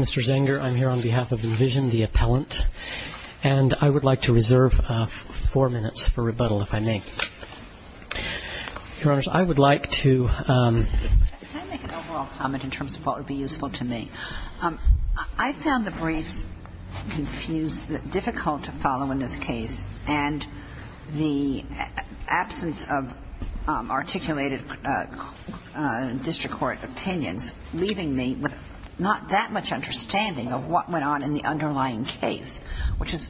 Mr. Zenger, I am here on behalf of Envision, the appellant, and I would like to reserve four minutes for rebuttal, if I may. Your Honor, I would like to make an overall comment in terms of what would be useful to me. I found the briefs difficult to follow in this case, and the absence of articulated district court opinions leaving me with not that much understanding of what went on in the underlying case, which is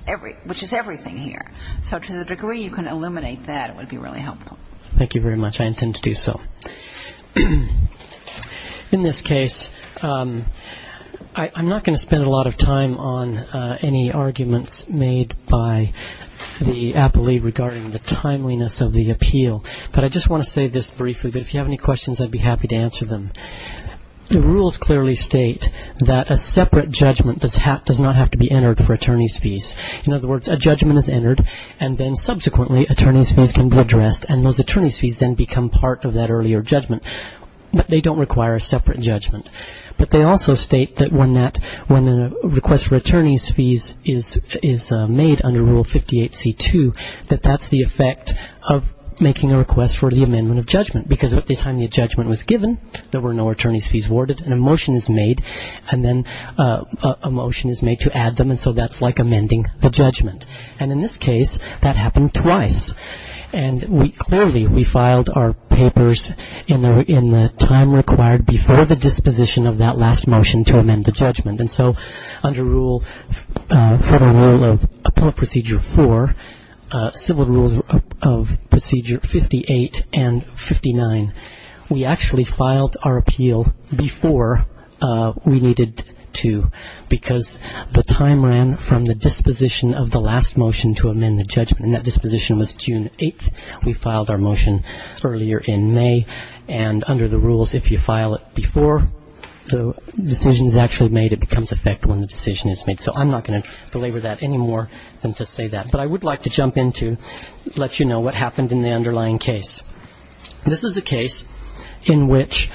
everything here. So to the degree you can eliminate that, it would be really helpful. Thank you very much. I intend to do so. In this case, I'm not going to spend a lot of time on any arguments made by the appellee regarding the timeliness of the appeal, but I just want to say this briefly, that if you have any questions, I'd be happy to answer them. The rules clearly state that a separate judgment does not have to be entered for attorney's fees to be entered, and then subsequently attorney's fees can be addressed, and those attorney's fees then become part of that earlier judgment. But they don't require a separate judgment. But they also state that when a request for attorney's fees is made under Rule 58c-2, that that's the effect of making a request for the amendment of judgment, because at the time the judgment was given, there were no attorney's fees awarded, and a motion is made, and then a motion is made to add them, and so that's like amending the judgment. And in this case, that happened twice, and clearly we filed our papers in the time required before the disposition of that last motion to amend the judgment. And so under Federal Rule of Appeal Procedure 4, Civil Rules of Procedure 58 and 59, we actually filed our appeal before we needed to, because the time ran from the disposition of the last motion to amend the judgment, and that disposition was June 8th. We filed our motion earlier in May, and under the rules, if you file it before the decision is actually made, it becomes effective when the decision is made. So I'm not going to belabor that any more than to say that. But I would like to jump in to let you know what happened in the underlying case. This is a case in which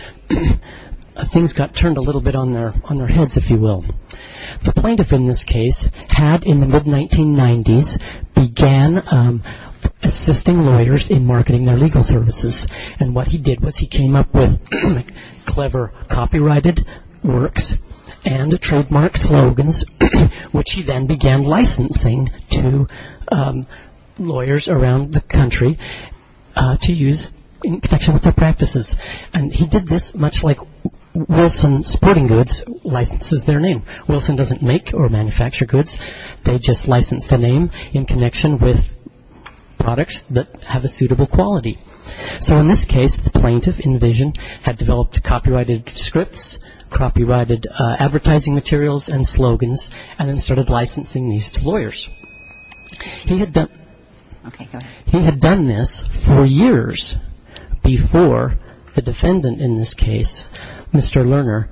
things got turned a little bit on their heads, if you will. The plaintiff in this case had, in the mid-1990s, began assisting lawyers in marketing their legal services, and what he did was he came up with clever copyrighted works and trademark slogans, which he then began licensing to lawyers around the country to use in connection with their practices. And he did this much like Wilson Sporting Goods licenses their name. Wilson doesn't make or manufacture goods. They just license the name in connection with products that have a suitable quality. So in this case, the plaintiff in vision had developed copyrighted scripts, copyrighted advertising materials and slogans, and then started licensing these to lawyers. He had done this for years before the defendant in this case, Mr. Lerner,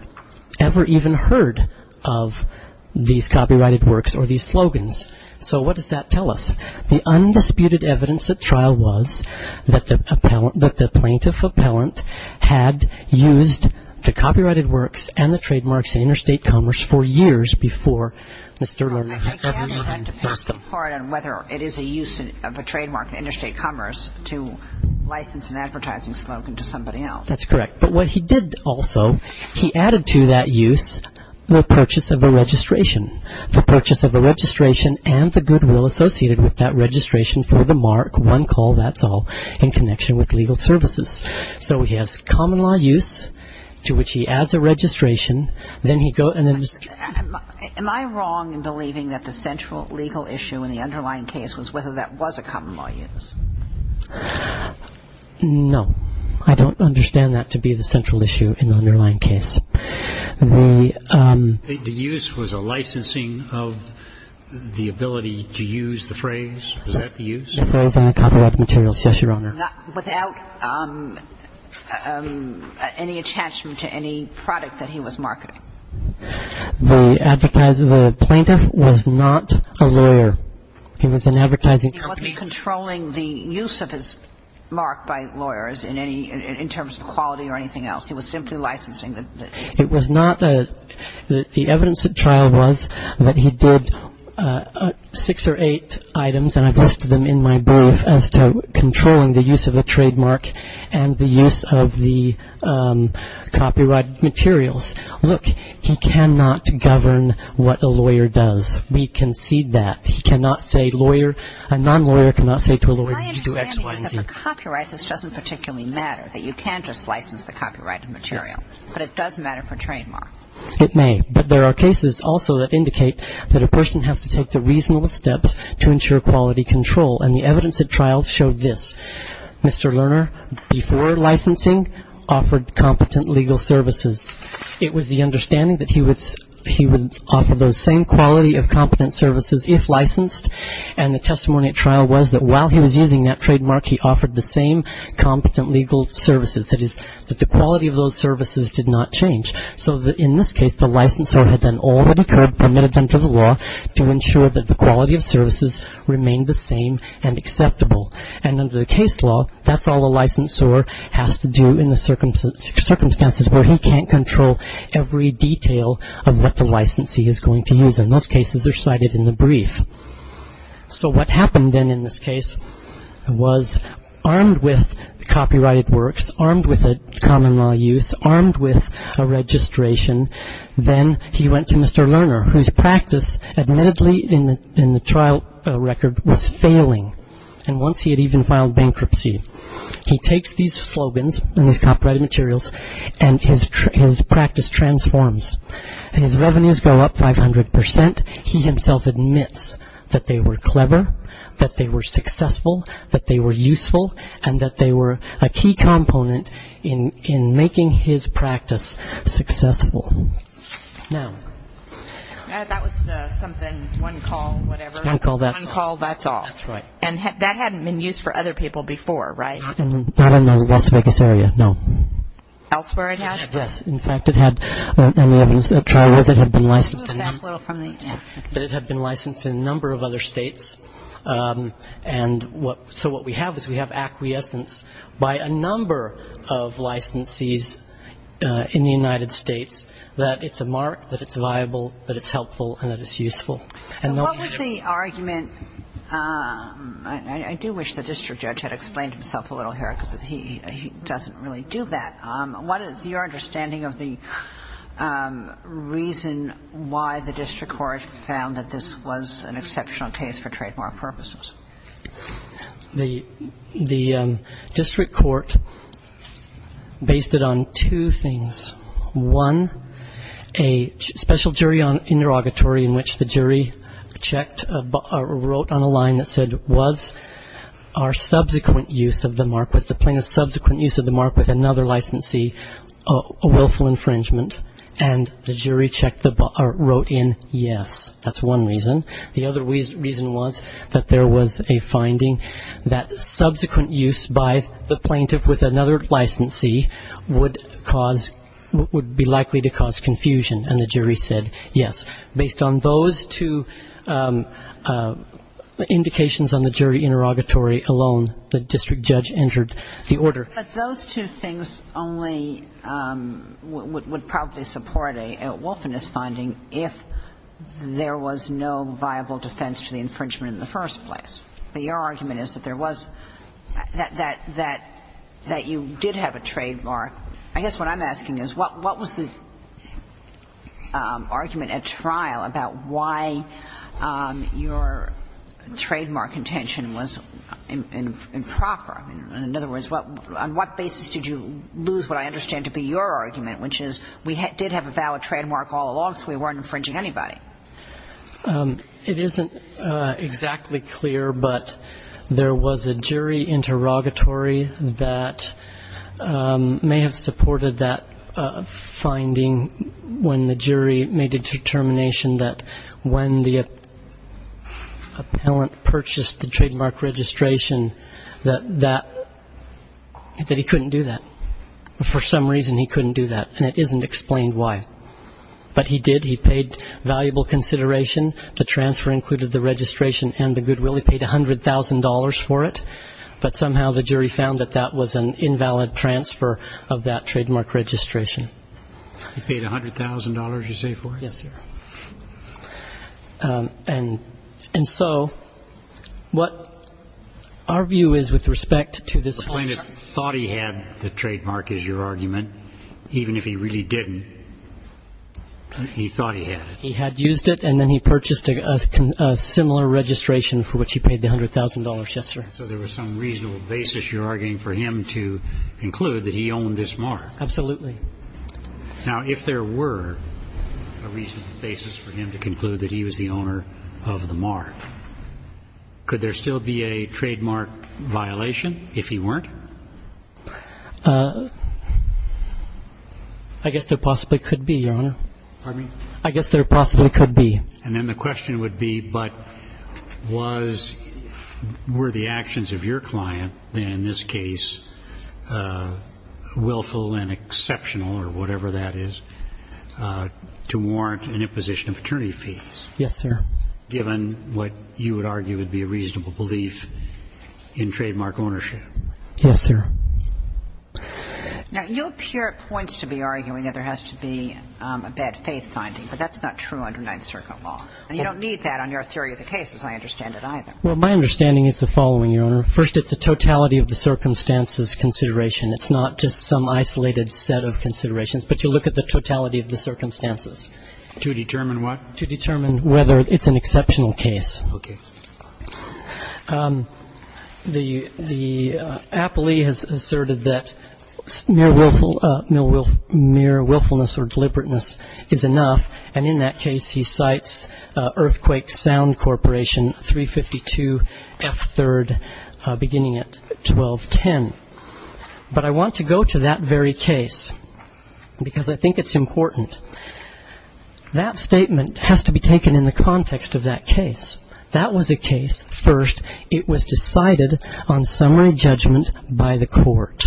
ever even heard of these copyrighted works or these slogans. So what does that tell us? The undisputed evidence at trial was that the plaintiff appellant had used the copyrighted works and the trademarks in interstate commerce for years before Mr. Lerner ever even heard of them. I can't even depend on whether it is a use of a trademark in interstate commerce to license an advertising slogan to somebody else. That's correct. But what he did also, he added to that use the purchase of a registration. The purchase of a registration and the goodwill associated with that registration for the mark, one call, that's all, in connection with legal services. So he has common law use to which he adds a registration. Am I wrong in believing that the central legal issue in the underlying case was whether that was a common law use? No. I don't understand that to be the central issue in the underlying case. The use was a licensing of the ability to use the phrase. Was that the use? The phrase on the copyrighted materials, yes, Your Honor. Without any attachment to any product that he was marketing. The plaintiff was not a lawyer. He was an advertising company. He was not controlling the use of his mark by lawyers in any, in terms of quality or anything else. He was simply licensing. It was not a, the evidence at trial was that he did six or eight items, and I've listed them in my brief, as to controlling the use of a trademark and the use of the copyrighted materials. Look, he cannot govern what a lawyer does. We concede that. He cannot say lawyer, a non-lawyer cannot say to a lawyer, you do X, Y, and Z. My understanding is that for copyright, this doesn't particularly matter, that you can just license the copyrighted material. Yes. But it does matter for trademark. It may. But there are cases also that indicate that a person has to take the reasonable steps to ensure quality control, and the evidence at trial showed this. Mr. Lerner, before licensing, offered competent legal services. It was the understanding that he would offer those same quality of competent services if licensed, and the testimony at trial was that while he was using that trademark, he offered the same competent legal services, that is, that the quality of those services did not change. So in this case, the licensor had done all that occurred, permitted them to the law, to ensure that the quality of services remained the same and acceptable. And under the case law, that's all a licensor has to do in the circumstances where he can't control every detail of what the licensee is going to use. And those cases are cited in the brief. So what happened then in this case was armed with copyrighted works, armed with a common law use, armed with a registration, then he went to Mr. Lerner, whose practice admittedly in the trial record was failing. And once he had even filed bankruptcy, he takes these slogans and these copyrighted admits that they were clever, that they were successful, that they were useful, and that they were a key component in making his practice successful. Now... That was something, one call, whatever. One call, that's all. One call, that's all. That's right. And that hadn't been used for other people before, right? Not in the West Vegas area, no. Elsewhere it had? Yes. In fact, it had, and the evidence at trial was it had been licensed to them. That it had been licensed in a number of other states. And so what we have is we have acquiescence by a number of licensees in the United States that it's a mark, that it's viable, that it's helpful, and that it's useful. So what was the argument? I do wish the district judge had explained himself a little here because he doesn't really do that. What is your understanding of the reason why the district court found that this was an exceptional case for trademark purposes? The district court based it on two things. One, a special jury interrogatory in which the jury checked or wrote on a line that said, was the plaintiff's subsequent use of the mark with another licensee a willful infringement? And the jury checked or wrote in yes. That's one reason. The other reason was that there was a finding that subsequent use by the plaintiff with another licensee would cause, would be likely to cause confusion, and the jury said yes. Based on those two indications on the jury interrogatory alone, the district judge entered the order. But those two things only would probably support a wilfulness finding if there was no viable defense to the infringement in the first place. But your argument is that there was, that you did have a trademark. I guess what I'm asking is what was the argument at trial about why your trademark intention was improper? In other words, on what basis did you lose what I understand to be your argument, which is we did have a valid trademark all along, so we weren't infringing anybody? It isn't exactly clear, but there was a jury interrogatory that may have supported that finding when the jury made a determination that when the appellant purchased the trademark registration that he couldn't do that. For some reason he couldn't do that, and it isn't explained why. But he did. He paid valuable consideration. The transfer included the registration and the goodwill. He paid $100,000 for it. But somehow the jury found that that was an invalid transfer of that trademark registration. He paid $100,000, you say, for it? Yes, sir. And so what our view is with respect to this whole charge. The plaintiff thought he had the trademark is your argument. Even if he really didn't, he thought he had it. He had used it, and then he purchased a similar registration for which he paid the $100,000, yes, sir. So there was some reasonable basis, you're arguing, for him to conclude that he owned this mark. Absolutely. Now, if there were a reasonable basis for him to conclude that he was the owner of the mark, could there still be a trademark violation if he weren't? I guess there possibly could be, Your Honor. Pardon me? I guess there possibly could be. And then the question would be, but were the actions of your client, in this case, willful and exceptional or whatever that is, to warrant an imposition of attorney fees? Yes, sir. Given what you would argue would be a reasonable belief in trademark ownership? Yes, sir. Now, you appear at points to be arguing that there has to be a bad faith finding, but that's not true under Ninth Circuit law. And you don't need that on your theory of the case, as I understand it, either. Well, my understanding is the following, Your Honor. First, it's a totality of the circumstances consideration. It's not just some isolated set of considerations, but you look at the totality of the circumstances. To determine what? To determine whether it's an exceptional case. Okay. The appellee has asserted that mere willfulness or deliberateness is enough, and in that case he cites Earthquake Sound Corporation, 352 F. 3rd, beginning at 1210. But I want to go to that very case because I think it's important. That statement has to be taken in the context of that case. That was a case, first, it was decided on summary judgment by the court.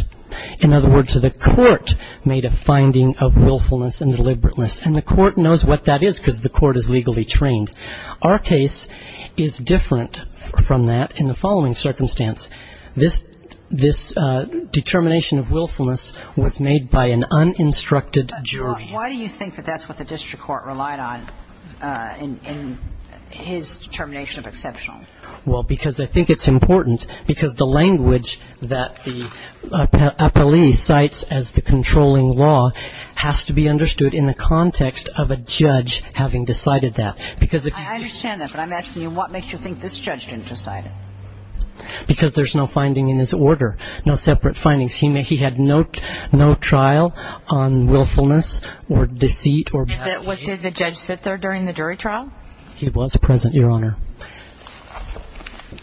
In other words, the court made a finding of willfulness and deliberateness, and the court knows what that is because the court is legally trained. Our case is different from that in the following circumstance. This determination of willfulness was made by an uninstructed jury. Why do you think that that's what the district court relied on in his determination of exceptional? Well, because I think it's important because the language that the appellee cites as the controlling law has to be understood in the context of a judge having decided that. I understand that, but I'm asking you what makes you think this judge didn't decide it? Because there's no finding in his order, no separate findings. He had no trial on willfulness or deceit or bad faith. Did the judge sit there during the jury trial? He was present, Your Honor.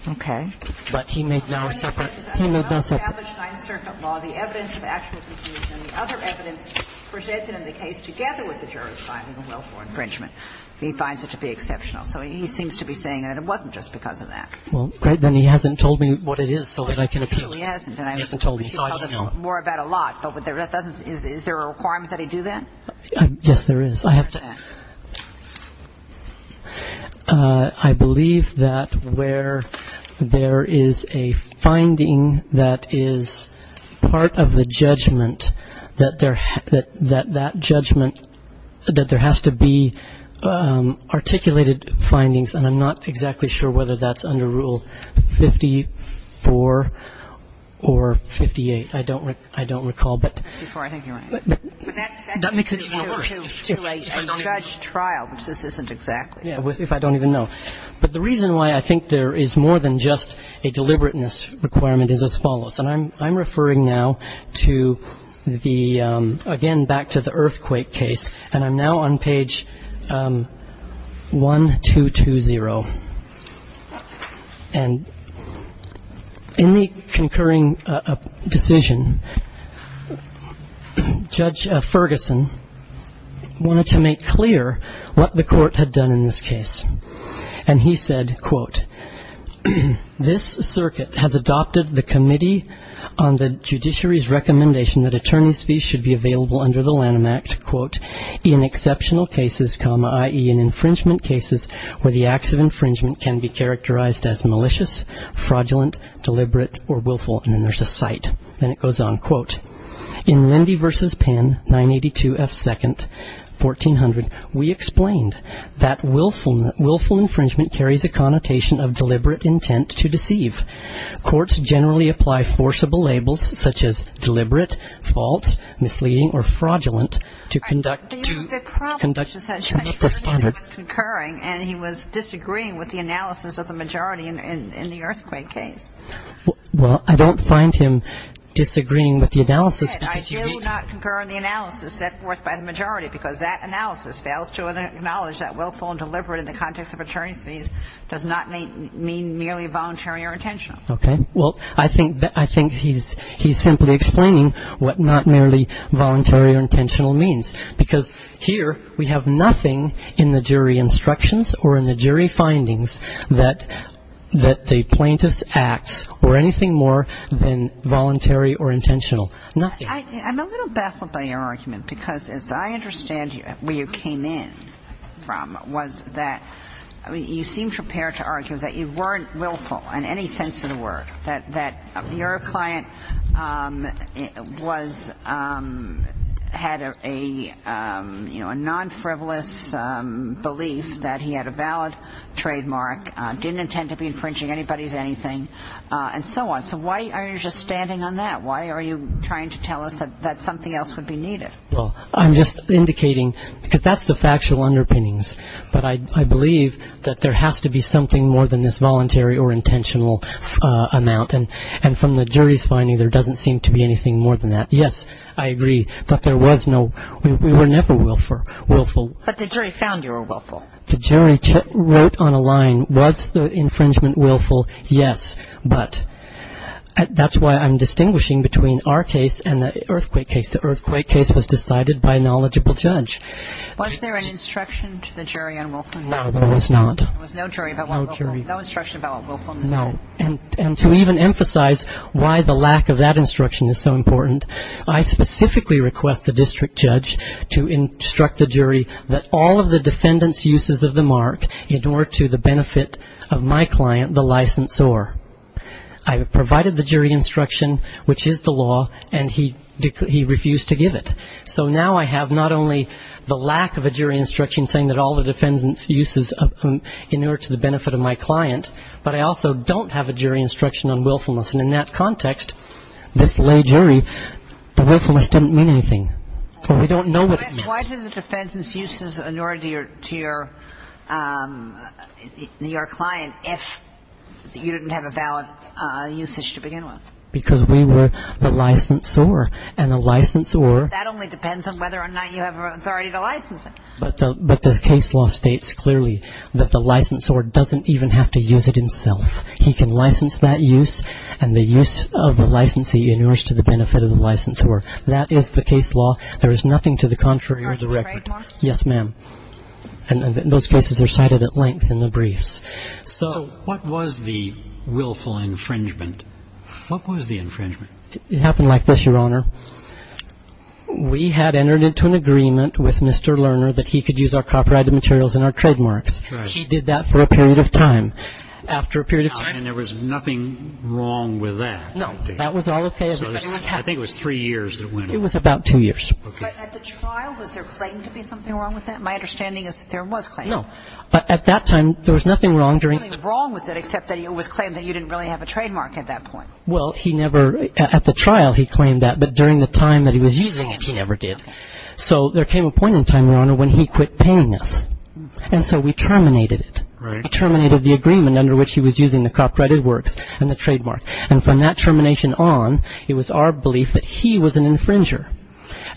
Okay. But he made no separate. He made no separate. The evidence of actual confusion and the other evidence presented in the case together with the jury's finding of willful infringement, he finds it to be exceptional. So he seems to be saying that it wasn't just because of that. Well, great. Then he hasn't told me what it is so that I can appeal it. He hasn't. He hasn't told me, so I don't know. He could tell us more about a lot, but is there a requirement that he do that? Yes, there is. I believe that where there is a finding that is part of the judgment, that that judgment, that there has to be articulated findings, and I'm not exactly sure whether that's under Rule 54 or 58. I don't recall. That makes it even worse. A judge trial, which this isn't exactly. If I don't even know. But the reason why I think there is more than just a deliberateness requirement is as follows, and I'm referring now to the, again, back to the earthquake case, and I'm now on page 1220. And in the concurring decision, Judge Ferguson wanted to make clear what the court had done in this case. And he said, quote, This circuit has adopted the committee on the judiciary's recommendation that attorney's fees should be available under the Lanham Act, quote, in exceptional cases, comma, i.e., in infringement cases, where the acts of infringement can be characterized as malicious, fraudulent, deliberate, or willful. And then there's a cite, and it goes on, quote, In Lindy v. Penn, 982 F. 2nd, 1400, we explained that willful infringement carries a connotation of deliberate intent to deceive. Courts generally apply forcible labels, such as deliberate, false, misleading, or fraudulent, to conduct conduction of the standard. The problem is that Judge Ferguson was concurring, and he was disagreeing with the analysis of the majority in the earthquake case. Well, I don't find him disagreeing with the analysis because you need to. I do not concur in the analysis set forth by the majority because that analysis fails to acknowledge that willful and deliberate in the context of attorney's fees does not mean merely voluntary or intentional. Okay. Well, I think he's simply explaining what not merely voluntary or intentional means because here we have nothing in the jury instructions or in the jury findings that the plaintiff's acts were anything more than voluntary or intentional, nothing. I'm a little baffled by your argument because as I understand where you came in from was that you seemed prepared to argue that you weren't willful in any sense of the word, that your client had a non-frivolous belief that he had a valid trademark, didn't intend to be infringing anybody's anything, and so on. So why are you just standing on that? Why are you trying to tell us that something else would be needed? Well, I'm just indicating because that's the factual underpinnings, but I believe that there has to be something more than this voluntary or intentional amount, and from the jury's finding there doesn't seem to be anything more than that. Yes, I agree that there was no we were never willful. But the jury found you were willful. The jury wrote on a line was the infringement willful, yes, but that's why I'm distinguishing between our case and the earthquake case. The earthquake case was decided by a knowledgeable judge. Was there an instruction to the jury on willfulness? No, there was not. There was no instruction about willfulness? No, and to even emphasize why the lack of that instruction is so important, I specifically request the district judge to instruct the jury that all of the defendant's uses of the mark in order to the benefit of my client, the licensor. I provided the jury instruction, which is the law, and he refused to give it. So now I have not only the lack of a jury instruction saying that all the defendant's uses in order to the benefit of my client, but I also don't have a jury instruction on willfulness. And in that context, this lay jury, the willfulness didn't mean anything. So we don't know what it meant. Why do the defendant's uses in order to your client if you didn't have a valid usage to begin with? Because we were the licensor, and the licensor — But that only depends on whether or not you have authority to license it. But the case law states clearly that the licensor doesn't even have to use it himself. He can license that use, and the use of the licensee in order to the benefit of the licensor. That is the case law. There is nothing to the contrary of the record. Yes, ma'am. And those cases are cited at length in the briefs. So what was the willful infringement? What was the infringement? It happened like this, Your Honor. We had entered into an agreement with Mr. Lerner that he could use our copyrighted materials and our trademarks. He did that for a period of time. After a period of time — And there was nothing wrong with that? No. That was all okay? I think it was three years that went over. It was about two years. Okay. But at the trial, was there claimed to be something wrong with that? My understanding is that there was claim. No. At that time, there was nothing wrong during — There was nothing wrong with it, except that it was claimed that you didn't really have a trademark at that point. Well, he never — at the trial, he claimed that. But during the time that he was using it, he never did. So there came a point in time, Your Honor, when he quit paying us. And so we terminated it. Right. We terminated the agreement under which he was using the copyrighted works and the trademark. And from that termination on, it was our belief that he was an infringer,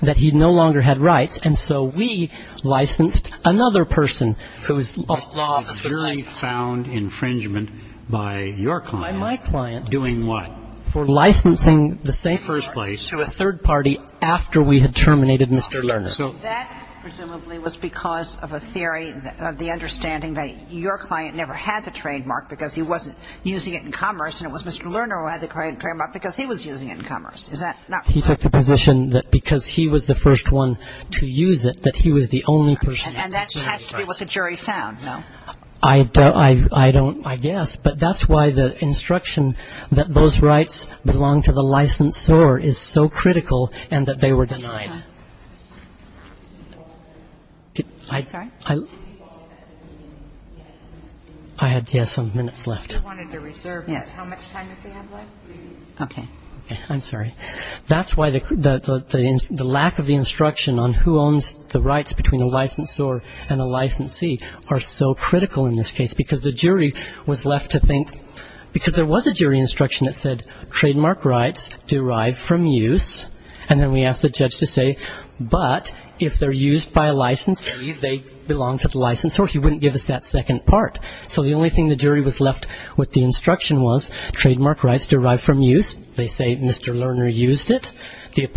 that he no longer had rights. And so we licensed another person whose law of association — A purely found infringement by your client. By my client. Doing what? For licensing the same part to a third party after we had terminated Mr. Lerner. So that presumably was because of a theory of the understanding that your client never had the trademark because he wasn't using it in commerce, and it was Mr. Lerner who had the trademark because he was using it in commerce. Is that not correct? He took the position that because he was the first one to use it, that he was the only person who could claim rights. And that has to be what the jury found, no? I don't — I guess. But that's why the instruction that those rights belong to the licensor is so critical and that they were denied. I'm sorry? I had, yes, some minutes left. You wanted to reserve. Yes. How much time does he have left? Okay. I'm sorry. That's why the lack of the instruction on who owns the rights between a licensor and a licensee are so critical in this case because the jury was left to think — because there was a jury instruction that said, And then we asked the judge to say, but if they're used by a licensee, they belong to the licensor. He wouldn't give us that second part. So the only thing the jury was left with the instruction was trademark rights derived from use. They say Mr. Lerner used it. The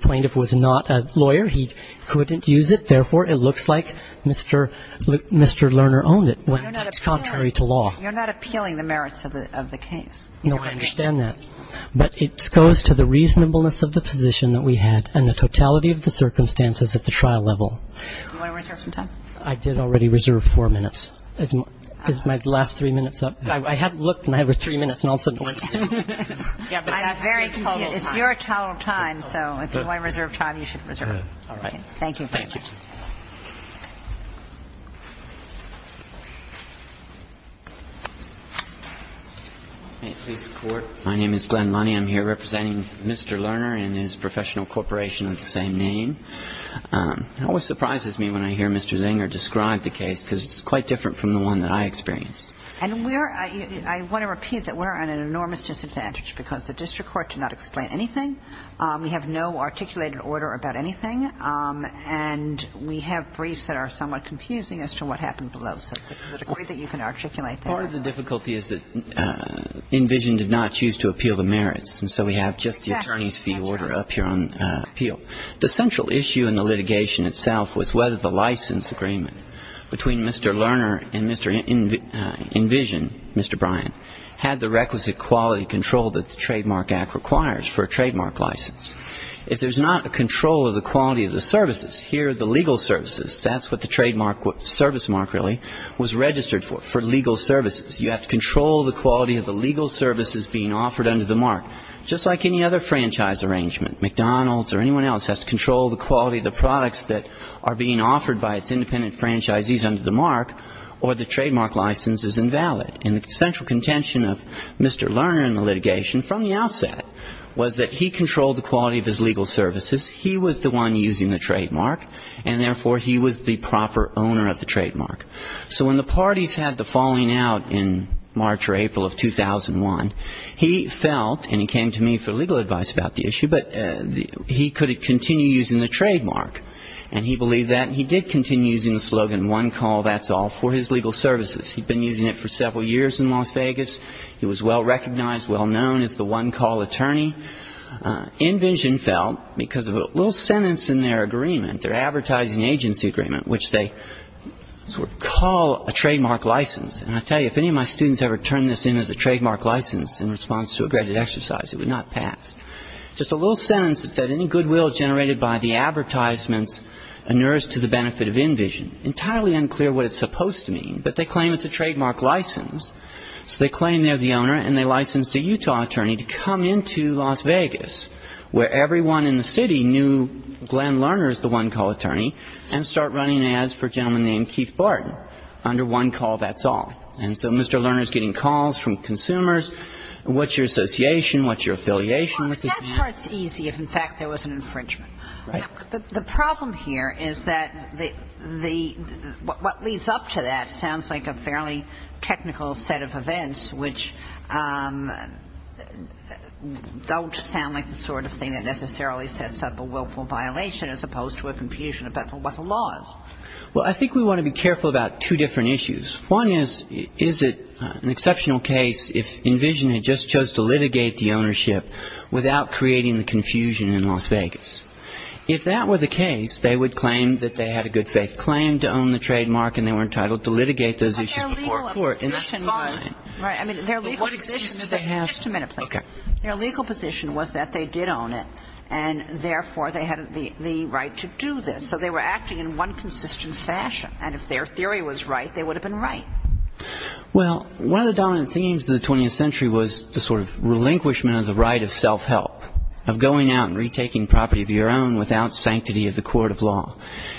plaintiff was not a lawyer. He couldn't use it. Therefore, it looks like Mr. Lerner owned it, contrary to law. You're not appealing the merits of the case. No, I understand that. But it goes to the reasonableness of the position that we had and the totality of the circumstances at the trial level. Do you want to reserve some time? I did already reserve four minutes. Is my last three minutes up? I had looked, and I was three minutes, and all of a sudden it went to zero. I got very total time. It's your total time, so if you want to reserve time, you should reserve it. All right. Thank you. Thank you. Thank you. May it please the Court? My name is Glenn Lunney. I'm here representing Mr. Lerner and his professional corporation of the same name. It always surprises me when I hear Mr. Zenger describe the case because it's quite different from the one that I experienced. And we are ñ I want to repeat that we're at an enormous disadvantage because the district court cannot explain anything. We have no articulated order about anything. And we have briefs that are somewhat confusing as to what happened below. So to the degree that you can articulate that. Part of the difficulty is that Envision did not choose to appeal the merits. And so we have just the attorney's fee order up here on appeal. The central issue in the litigation itself was whether the license agreement between Mr. Lerner and Mr. Envision, Mr. Bryan, had the requisite quality control that the Trademark Act requires for a trademark license. If there's not a control of the quality of the services, here the legal services, that's what the trademark ñ service mark, really, was registered for, for legal services. You have to control the quality of the legal services being offered under the mark, just like any other franchise arrangement. McDonald's or anyone else has to control the quality of the products that are being offered by its independent franchisees under the mark, or the trademark license is invalid. And the central contention of Mr. Lerner in the litigation from the outset was that he controlled the quality of his legal services, he was the one using the trademark, and therefore he was the proper owner of the trademark. So when the parties had the falling out in March or April of 2001, he felt, and he came to me for legal advice about the issue, but he could continue using the trademark. And he believed that, and he did continue using the slogan, one call, that's all, for his legal services. He'd been using it for several years in Las Vegas. He was well recognized, well known as the one-call attorney. InVision felt, because of a little sentence in their agreement, their advertising agency agreement, which they sort of call a trademark license. And I tell you, if any of my students ever turned this in as a trademark license in response to a granted exercise, it would not pass. Just a little sentence that said, any goodwill generated by the advertisements inures to the benefit of InVision. Entirely unclear what it's supposed to mean, but they claim it's a trademark license. So they claim they're the owner, and they license the Utah attorney to come into Las Vegas, where everyone in the city knew Glenn Lerner is the one-call attorney, and start running ads for a gentleman named Keith Barton under one call, that's all. And so Mr. Lerner's getting calls from consumers, what's your association, what's your affiliation with this man? Well, that part's easy if, in fact, there was an infringement. Right. The problem here is that the – what leads up to that sounds like a fairly technical set of events, which don't sound like the sort of thing that necessarily sets up a willful violation as opposed to a confusion about what the law is. Well, I think we want to be careful about two different issues. One is, is it an exceptional case if InVision had just chose to litigate the ownership without creating the confusion in Las Vegas? If that were the case, they would claim that they had a good faith claim to own the trademark, and they were entitled to litigate those issues before court. And that's fine. Right. I mean, their legal position – But what excuse did they have – Just a minute, please. Okay. Their legal position was that they did own it, and therefore they had the right to do this. So they were acting in one consistent fashion. And if their theory was right, they would have been right. Well, one of the dominant themes of the 20th century was the sort of relinquishment of the right of self-help, of going out and retaking property of your own without sanctity of the court of law.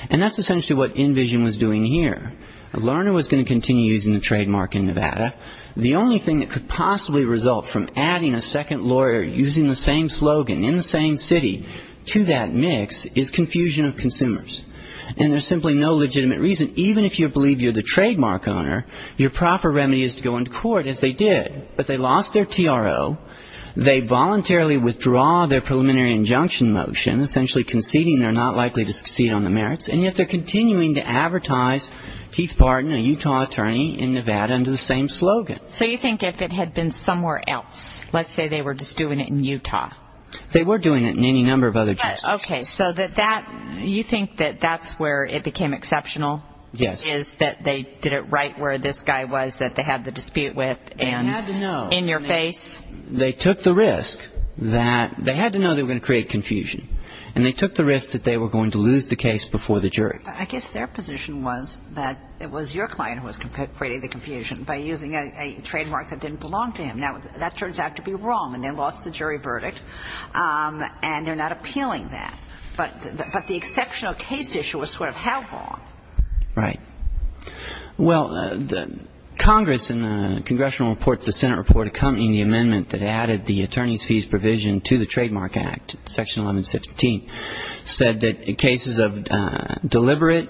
And that's essentially what InVision was doing here. Lerner was going to continue using the trademark in Nevada. The only thing that could possibly result from adding a second lawyer using the same slogan in the same city to that mix is confusion of consumers. And there's simply no legitimate reason. Even if you believe you're the trademark owner, your proper remedy is to go into court, as they did. But they lost their TRO. They voluntarily withdraw their preliminary injunction motion, essentially conceding they're not likely to succeed on the merits. And yet they're continuing to advertise Keith Barton, a Utah attorney in Nevada, under the same slogan. So you think if it had been somewhere else, let's say they were just doing it in Utah. They were doing it in any number of other states. Okay. So you think that that's where it became exceptional? Yes. Is that they did it right where this guy was that they had the dispute with and in your face? They took the risk that they had to know they were going to create confusion. And they took the risk that they were going to lose the case before the jury. I guess their position was that it was your client who was creating the confusion by using a trademark that didn't belong to him. Now, that turns out to be wrong. And they lost the jury verdict. And they're not appealing that. But the exceptional case issue was sort of how wrong? Right. Well, Congress in the congressional report, the Senate report accompanying the amendment that added the attorney's fees provision to the Trademark Act, Section 1115, said that cases of deliberate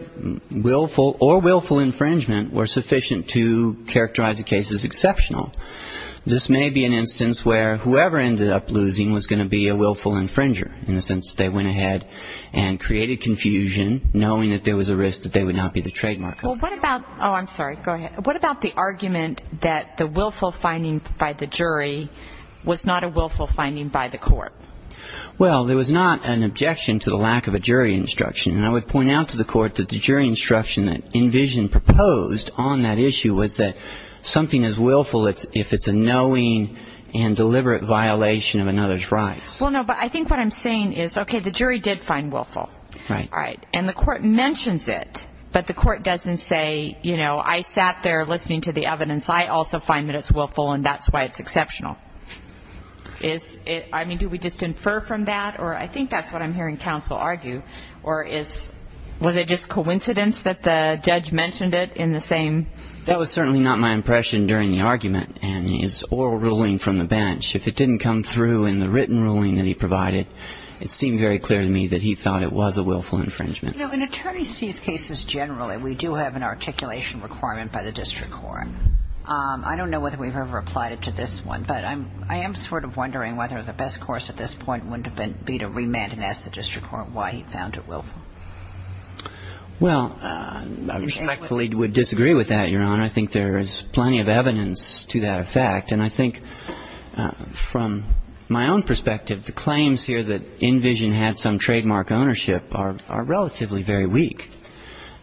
or willful infringement were sufficient to characterize the case as exceptional. This may be an instance where whoever ended up losing was going to be a willful infringer in the sense that they went ahead and created confusion, knowing that there was a risk that they would not be the trademark. Well, what about the argument that the willful finding by the jury was not a willful finding by the court? Well, there was not an objection to the lack of a jury instruction. And I would point out to the court that the jury instruction that Envision proposed on that issue was that something is willful if it's a knowing and deliberate violation of another's rights. Well, no, but I think what I'm saying is, okay, the jury did find willful. Right. And the court mentions it, but the court doesn't say, you know, I sat there listening to the evidence. I also find that it's willful, and that's why it's exceptional. I mean, do we just infer from that? Or I think that's what I'm hearing counsel argue. Or was it just coincidence that the judge mentioned it in the same? That was certainly not my impression during the argument. And his oral ruling from the bench, if it didn't come through in the written ruling that he provided, it seemed very clear to me that he thought it was a willful infringement. You know, in attorneys' fees cases generally, we do have an articulation requirement by the district court. I don't know whether we've ever applied it to this one, but I am sort of wondering whether the best course at this point would be to remand and ask the district court why he found it willful. Well, I respectfully would disagree with that, Your Honor. I think there is plenty of evidence to that effect. And I think from my own perspective, the claims here that InVision had some trademark ownership are relatively very weak.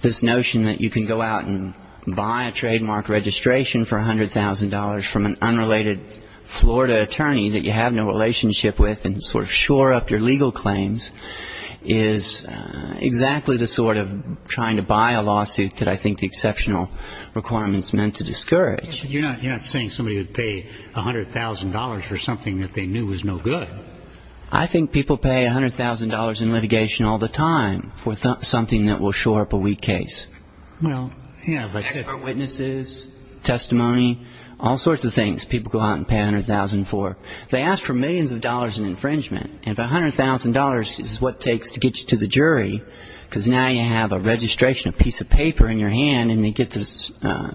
This notion that you can go out and buy a trademark registration for $100,000 from an unrelated Florida attorney that you have no relationship with and sort of shore up your legal claims is exactly the sort of trying to buy a lawsuit that I think the exceptional requirement is meant to discourage. You're not saying somebody would pay $100,000 for something that they knew was no good. I think people pay $100,000 in litigation all the time for something that will shore up a weak case. Well, yeah. Expert witnesses, testimony, all sorts of things people go out and pay $100,000 for. They ask for millions of dollars in infringement. And if $100,000 is what it takes to get you to the jury, because now you have a registration, a piece of paper in your hand, and they get this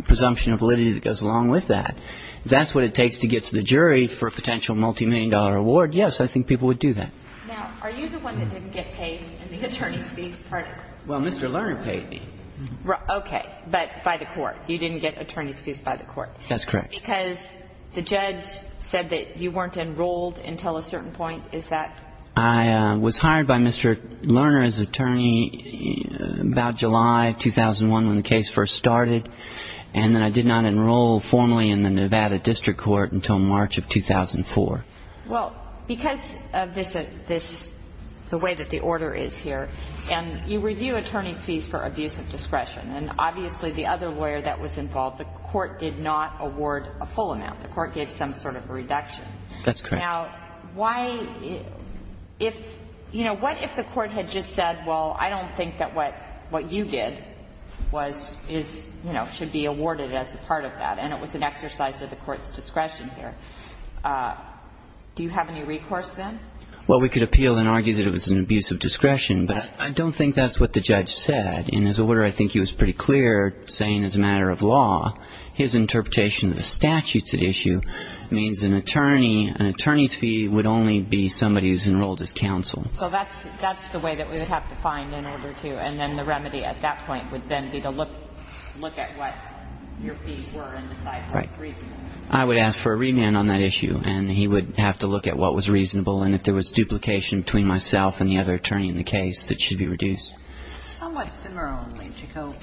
presumption of validity that goes along with that, if that's what it takes to get to the jury for a potential multimillion-dollar award, yes, I think people would do that. Now, are you the one that didn't get paid in the attorney's fees part of it? Well, Mr. Lerner paid me. Okay. But by the court. You didn't get attorney's fees by the court. That's correct. Because the judge said that you weren't enrolled until a certain point. Is that? I was hired by Mr. Lerner as attorney about July 2001 when the case first started, and then I did not enroll formally in the Nevada district court until March of 2004. Well, because of this, the way that the order is here, and you review attorney's fees for abuse of discretion, and obviously the other lawyer that was involved, the court did not award a full amount. The court gave some sort of a reduction. That's correct. Now, why — if — you know, what if the court had just said, well, I don't think that what you did was — is, you know, should be awarded as a part of that, and it was an exercise of the court's discretion here? Do you have any recourse then? Well, we could appeal and argue that it was an abuse of discretion, but I don't think that's what the judge said. In his order, I think he was pretty clear, saying as a matter of law, his interpretation of the statutes at issue means an attorney — an attorney's fee would only be somebody who's enrolled as counsel. So that's the way that we would have to find in order to — and then the remedy at that point would then be to look at what your fees were and decide how to review them. Right. I would ask for a remand on that issue, and he would have to look at what was reasonable, and if there was duplication between myself and the other attorney in the case, it should be reduced. Somewhat similarly, to go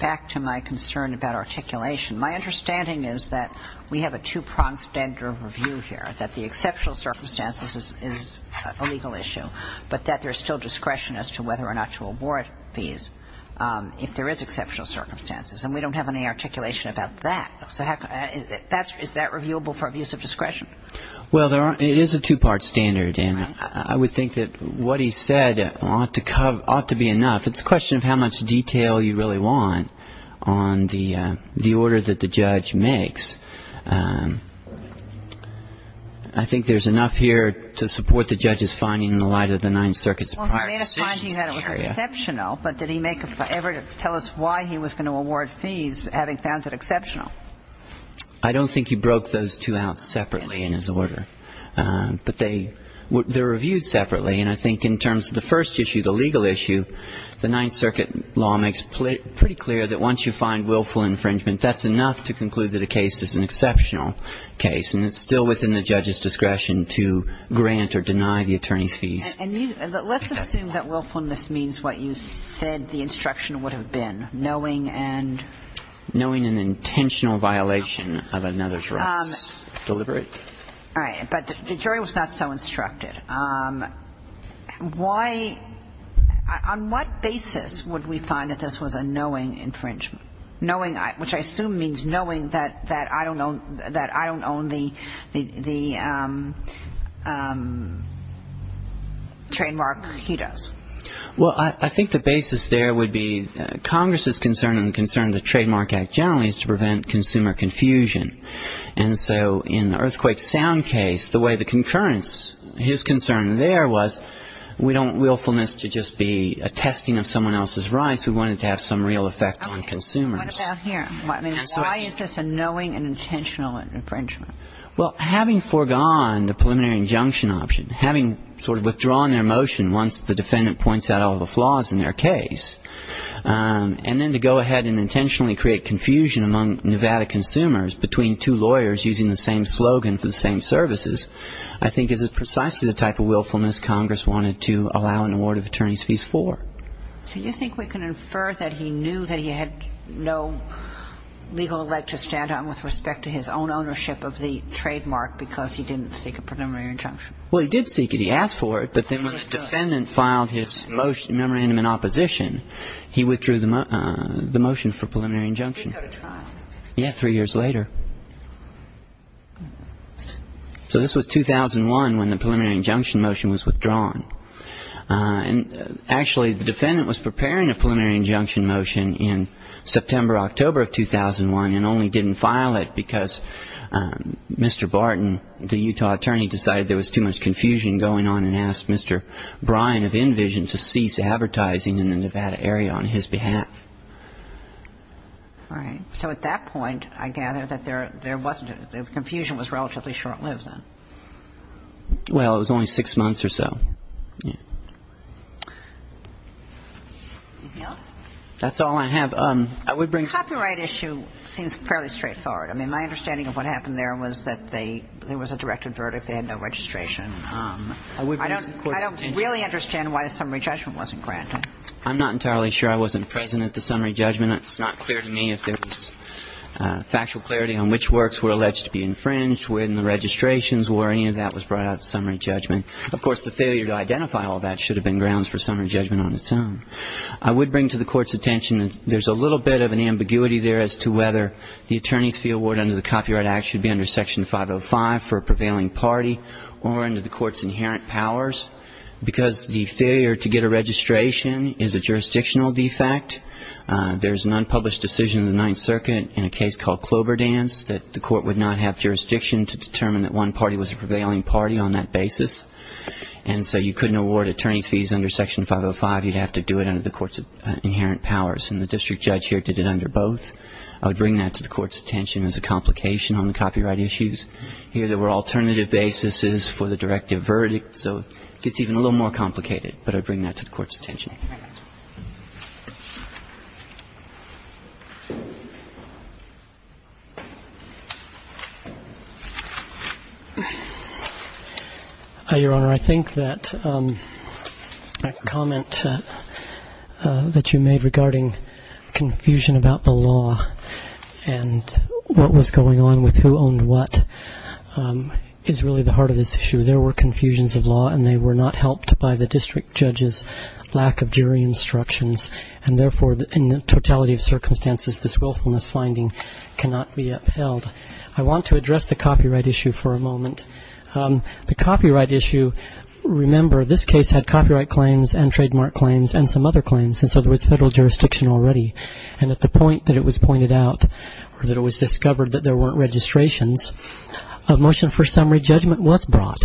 back to my concern about articulation, my understanding is that we have a two-pronged standard of review here, that the exceptional circumstances is a legal issue, but that there's still discretion as to whether or not to award fees if there is exceptional circumstances. And we don't have any articulation about that. So is that reviewable for abuse of discretion? Well, it is a two-part standard, and I would think that what he said ought to be enough. It's a question of how much detail you really want on the order that the judge makes. I think there's enough here to support the judge's finding in the light of the Ninth Circuit's prior decisions. Well, he made a finding that it was exceptional, but did he make evidence to tell us why he was going to award fees, having found it exceptional? I don't think he broke those two out separately in his order. But they're reviewed separately, and I think in terms of the first issue, the legal issue, the Ninth Circuit law makes pretty clear that once you find willful infringement, that's enough to conclude that a case is an exceptional case, and it's still within the judge's discretion to grant or deny the attorney's fees. And let's assume that willfulness means what you said the instruction would have been, knowing and... Knowing an intentional violation of another's rights. Deliberate. All right. But the jury was not so instructed. Why – on what basis would we find that this was a knowing infringement? Which I assume means knowing that I don't own the trademark he does. Well, I think the basis there would be Congress's concern, and the concern of the Trademark Act generally is to prevent consumer confusion. And so in Earthquake Sound case, the way the concurrence, his concern there was, we don't want willfulness to just be a testing of someone else's rights. We want it to have some real effect on consumers. What about here? I mean, why is this a knowing and intentional infringement? Well, having foregone the preliminary injunction option, having sort of withdrawn their motion once the defendant points out all the flaws in their case, and then to go ahead and intentionally create confusion among Nevada consumers between two lawyers using the same slogan for the same services, I think is precisely the type of willfulness Congress wanted to allow an award of attorney's fees for. So you think we can infer that he knew that he had no legal elect to stand on with respect to his own ownership of the trademark because he didn't seek a preliminary injunction? Well, he did seek it. He asked for it. But then when the defendant filed his memorandum in opposition, he withdrew the motion for preliminary injunction. He did go to trial. Yeah, three years later. So this was 2001 when the preliminary injunction motion was withdrawn. And actually, the defendant was preparing a preliminary injunction motion in September-October of 2001 and only didn't file it because Mr. Barton, the Utah attorney, decided there was too much confusion going on and asked Mr. Bryan of InVision to cease advertising in the Nevada area on his behalf. All right. So at that point, I gather, that there wasn't the confusion was relatively short-lived then. Well, it was only six months or so. Anything else? That's all I have. Copyright issue seems fairly straightforward. I mean, my understanding of what happened there was that there was a directed verdict. They had no registration. I don't really understand why the summary judgment wasn't granted. I'm not entirely sure I wasn't present at the summary judgment. It's not clear to me if there was factual clarity on which works were alleged to be infringed, which were in the registrations, or any of that was brought out at the summary judgment. Of course, the failure to identify all that should have been grounds for summary judgment on its own. I would bring to the Court's attention that there's a little bit of an ambiguity there as to whether the attorney's fee award under the Copyright Act should be under Section 505 for a prevailing party or under the Court's inherent powers, because the failure to get a registration is a jurisdictional defect. There's an unpublished decision in the Ninth Circuit in a case called Cloberdance that the Court would not have jurisdiction to determine that one party was a prevailing party on that basis. And so you couldn't award attorney's fees under Section 505. You'd have to do it under the Court's inherent powers. And the district judge here did it under both. I would bring that to the Court's attention as a complication on the copyright issues. Here there were alternative basis for the directive verdict. So it gets even a little more complicated. But I bring that to the Court's attention. Thank you. Your Honor, I think that a comment that you made regarding confusion about the law and what was going on with who owned what is really the heart of this issue. There were confusions of law, and they were not helped by the district judge's lack of jury instructions. And therefore, in the totality of circumstances, this willfulness finding cannot be upheld. I want to address the copyright issue for a moment. The copyright issue, remember, this case had copyright claims and trademark claims and some other claims, and so there was federal jurisdiction already. And at the point that it was pointed out or that it was discovered that there weren't registrations, a motion for summary judgment was brought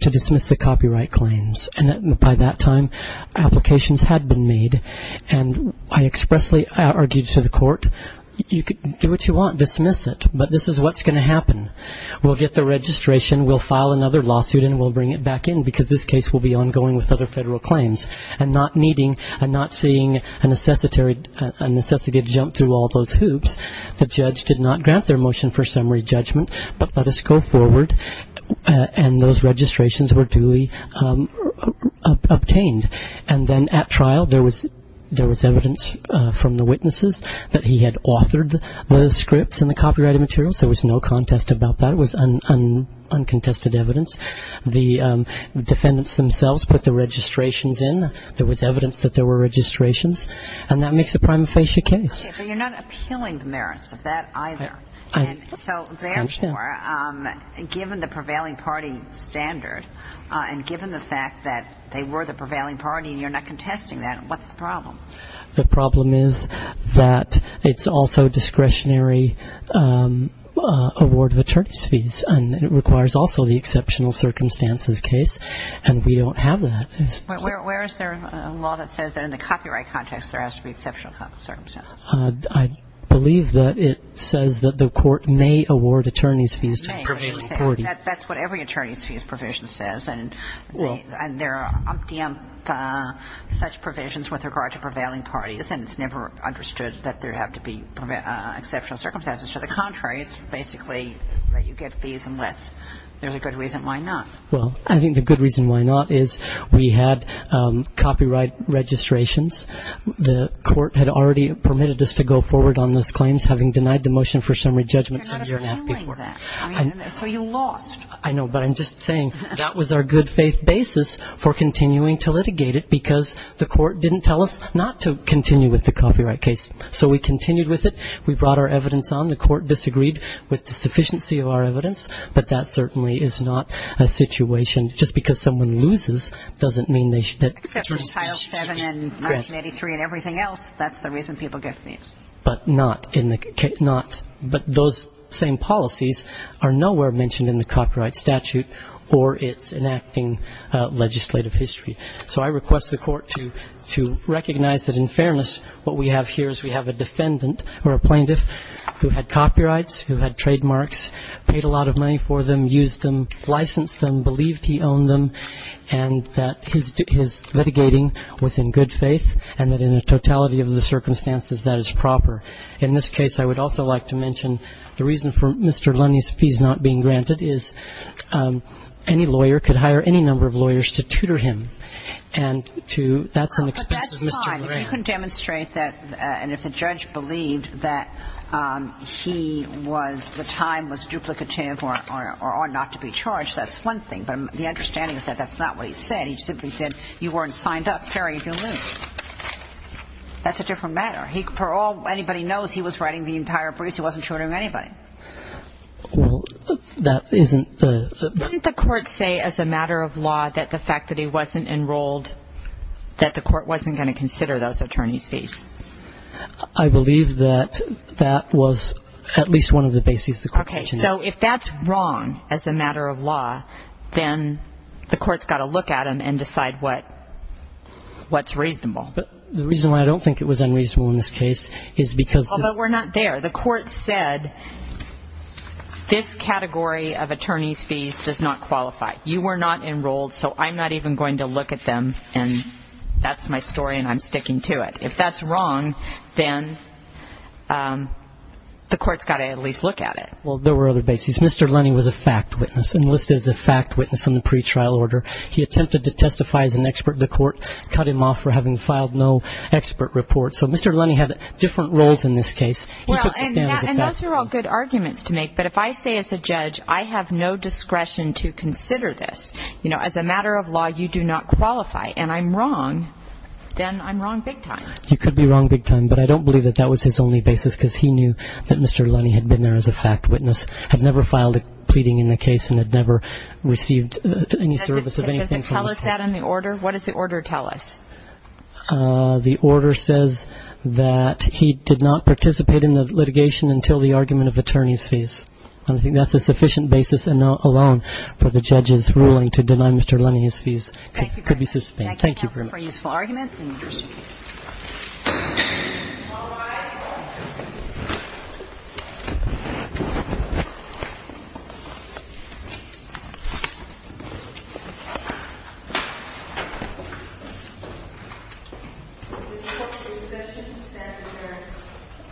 to dismiss the copyright claims. And by that time, applications had been made. And I expressly argued to the Court, you can do what you want, dismiss it, but this is what's going to happen. We'll get the registration, we'll file another lawsuit, and we'll bring it back in because this case will be ongoing with other federal claims. And not needing and not seeing a necessity to jump through all those hoops, the judge did not grant their motion for summary judgment, but let us go forward. And those registrations were duly obtained. And then at trial, there was evidence from the witnesses that he had authored the scripts and the copyrighted materials. There was no contest about that. It was uncontested evidence. The defendants themselves put the registrations in. There was evidence that there were registrations. And that makes a prima facie case. But you're not appealing the merits of that either. So therefore, given the prevailing party standard and given the fact that they were the prevailing party and you're not contesting that, what's the problem? The problem is that it's also discretionary award of attorneys fees and it requires also the exceptional circumstances case, and we don't have that. Where is there a law that says that in the copyright context, there has to be exceptional circumstances? I believe that it says that the court may award attorneys fees to the prevailing party. That's what every attorneys fees provision says. And there are umpteenth such provisions with regard to prevailing parties, and it's never understood that there have to be exceptional circumstances. To the contrary, it's basically that you get fees unless there's a good reason why not. Well, I think the good reason why not is we had copyright registrations. The court had already permitted us to go forward on those claims, having denied the motion for summary judgments a year and a half before. So you lost. I know, but I'm just saying that was our good faith basis for continuing to litigate it because the court didn't tell us not to continue with the copyright case. So we continued with it. We brought our evidence on. The court disagreed with the sufficiency of our evidence, but that certainly is not a situation just because someone loses doesn't mean they should. Except for Title VII and 1983 and everything else, that's the reason people get fees. But not in the case. But those same policies are nowhere mentioned in the copyright statute or its enacting legislative history. So I request the court to recognize that, in fairness, what we have here is we have a defendant or a plaintiff who had copyrights, who had trademarks, paid a lot of money for them, used them, licensed them, believed he owned them, and that his litigating was in good faith and that in the totality of the circumstances that is proper. In this case, I would also like to mention the reason for Mr. Lennie's fees not being granted is any lawyer could hire any number of lawyers to tutor him. And that's an expensive Mr. Grant. He couldn't demonstrate that, and if the judge believed that he was the time was duplicative or not to be charged, that's one thing. But the understanding is that that's not what he said. He simply said, you weren't signed up, carry if you lose. That's a different matter. For all anybody knows, he was writing the entire briefs. He wasn't tutoring anybody. Well, that isn't the ---- Didn't the court say as a matter of law that the fact that he wasn't enrolled, that the court wasn't going to consider those attorney's fees? I believe that that was at least one of the basis of the question. Okay. So if that's wrong as a matter of law, then the court's got to look at him and decide what's reasonable. But the reason why I don't think it was unreasonable in this case is because this ---- Well, but we're not there. The court said this category of attorney's fees does not qualify. You were not enrolled, so I'm not even going to look at them. And that's my story, and I'm sticking to it. If that's wrong, then the court's got to at least look at it. Well, there were other bases. Mr. Lennie was a fact witness, enlisted as a fact witness in the pretrial order. He attempted to testify as an expert in the court, cut him off for having filed no expert report. So Mr. Lennie had different roles in this case. He took the stand as a fact witness. And those are all good arguments to make. But if I say as a judge I have no discretion to consider this, you know, as a matter of law, you do not qualify, and I'm wrong, then I'm wrong big time. You could be wrong big time, but I don't believe that that was his only basis because he knew that Mr. Lennie had been there as a fact witness, had never filed a pleading in the case, and had never received any service of anything from the court. Does it tell us that in the order? What does the order tell us? The order says that he did not participate in the litigation until the argument of attorney's fees. I don't think that's a sufficient basis, and not alone, for the judge's ruling to deny Mr. Lennie his fees. It could be suspended. Thank you very much. Thank you, Your Honor, for a useful argument and a useful case.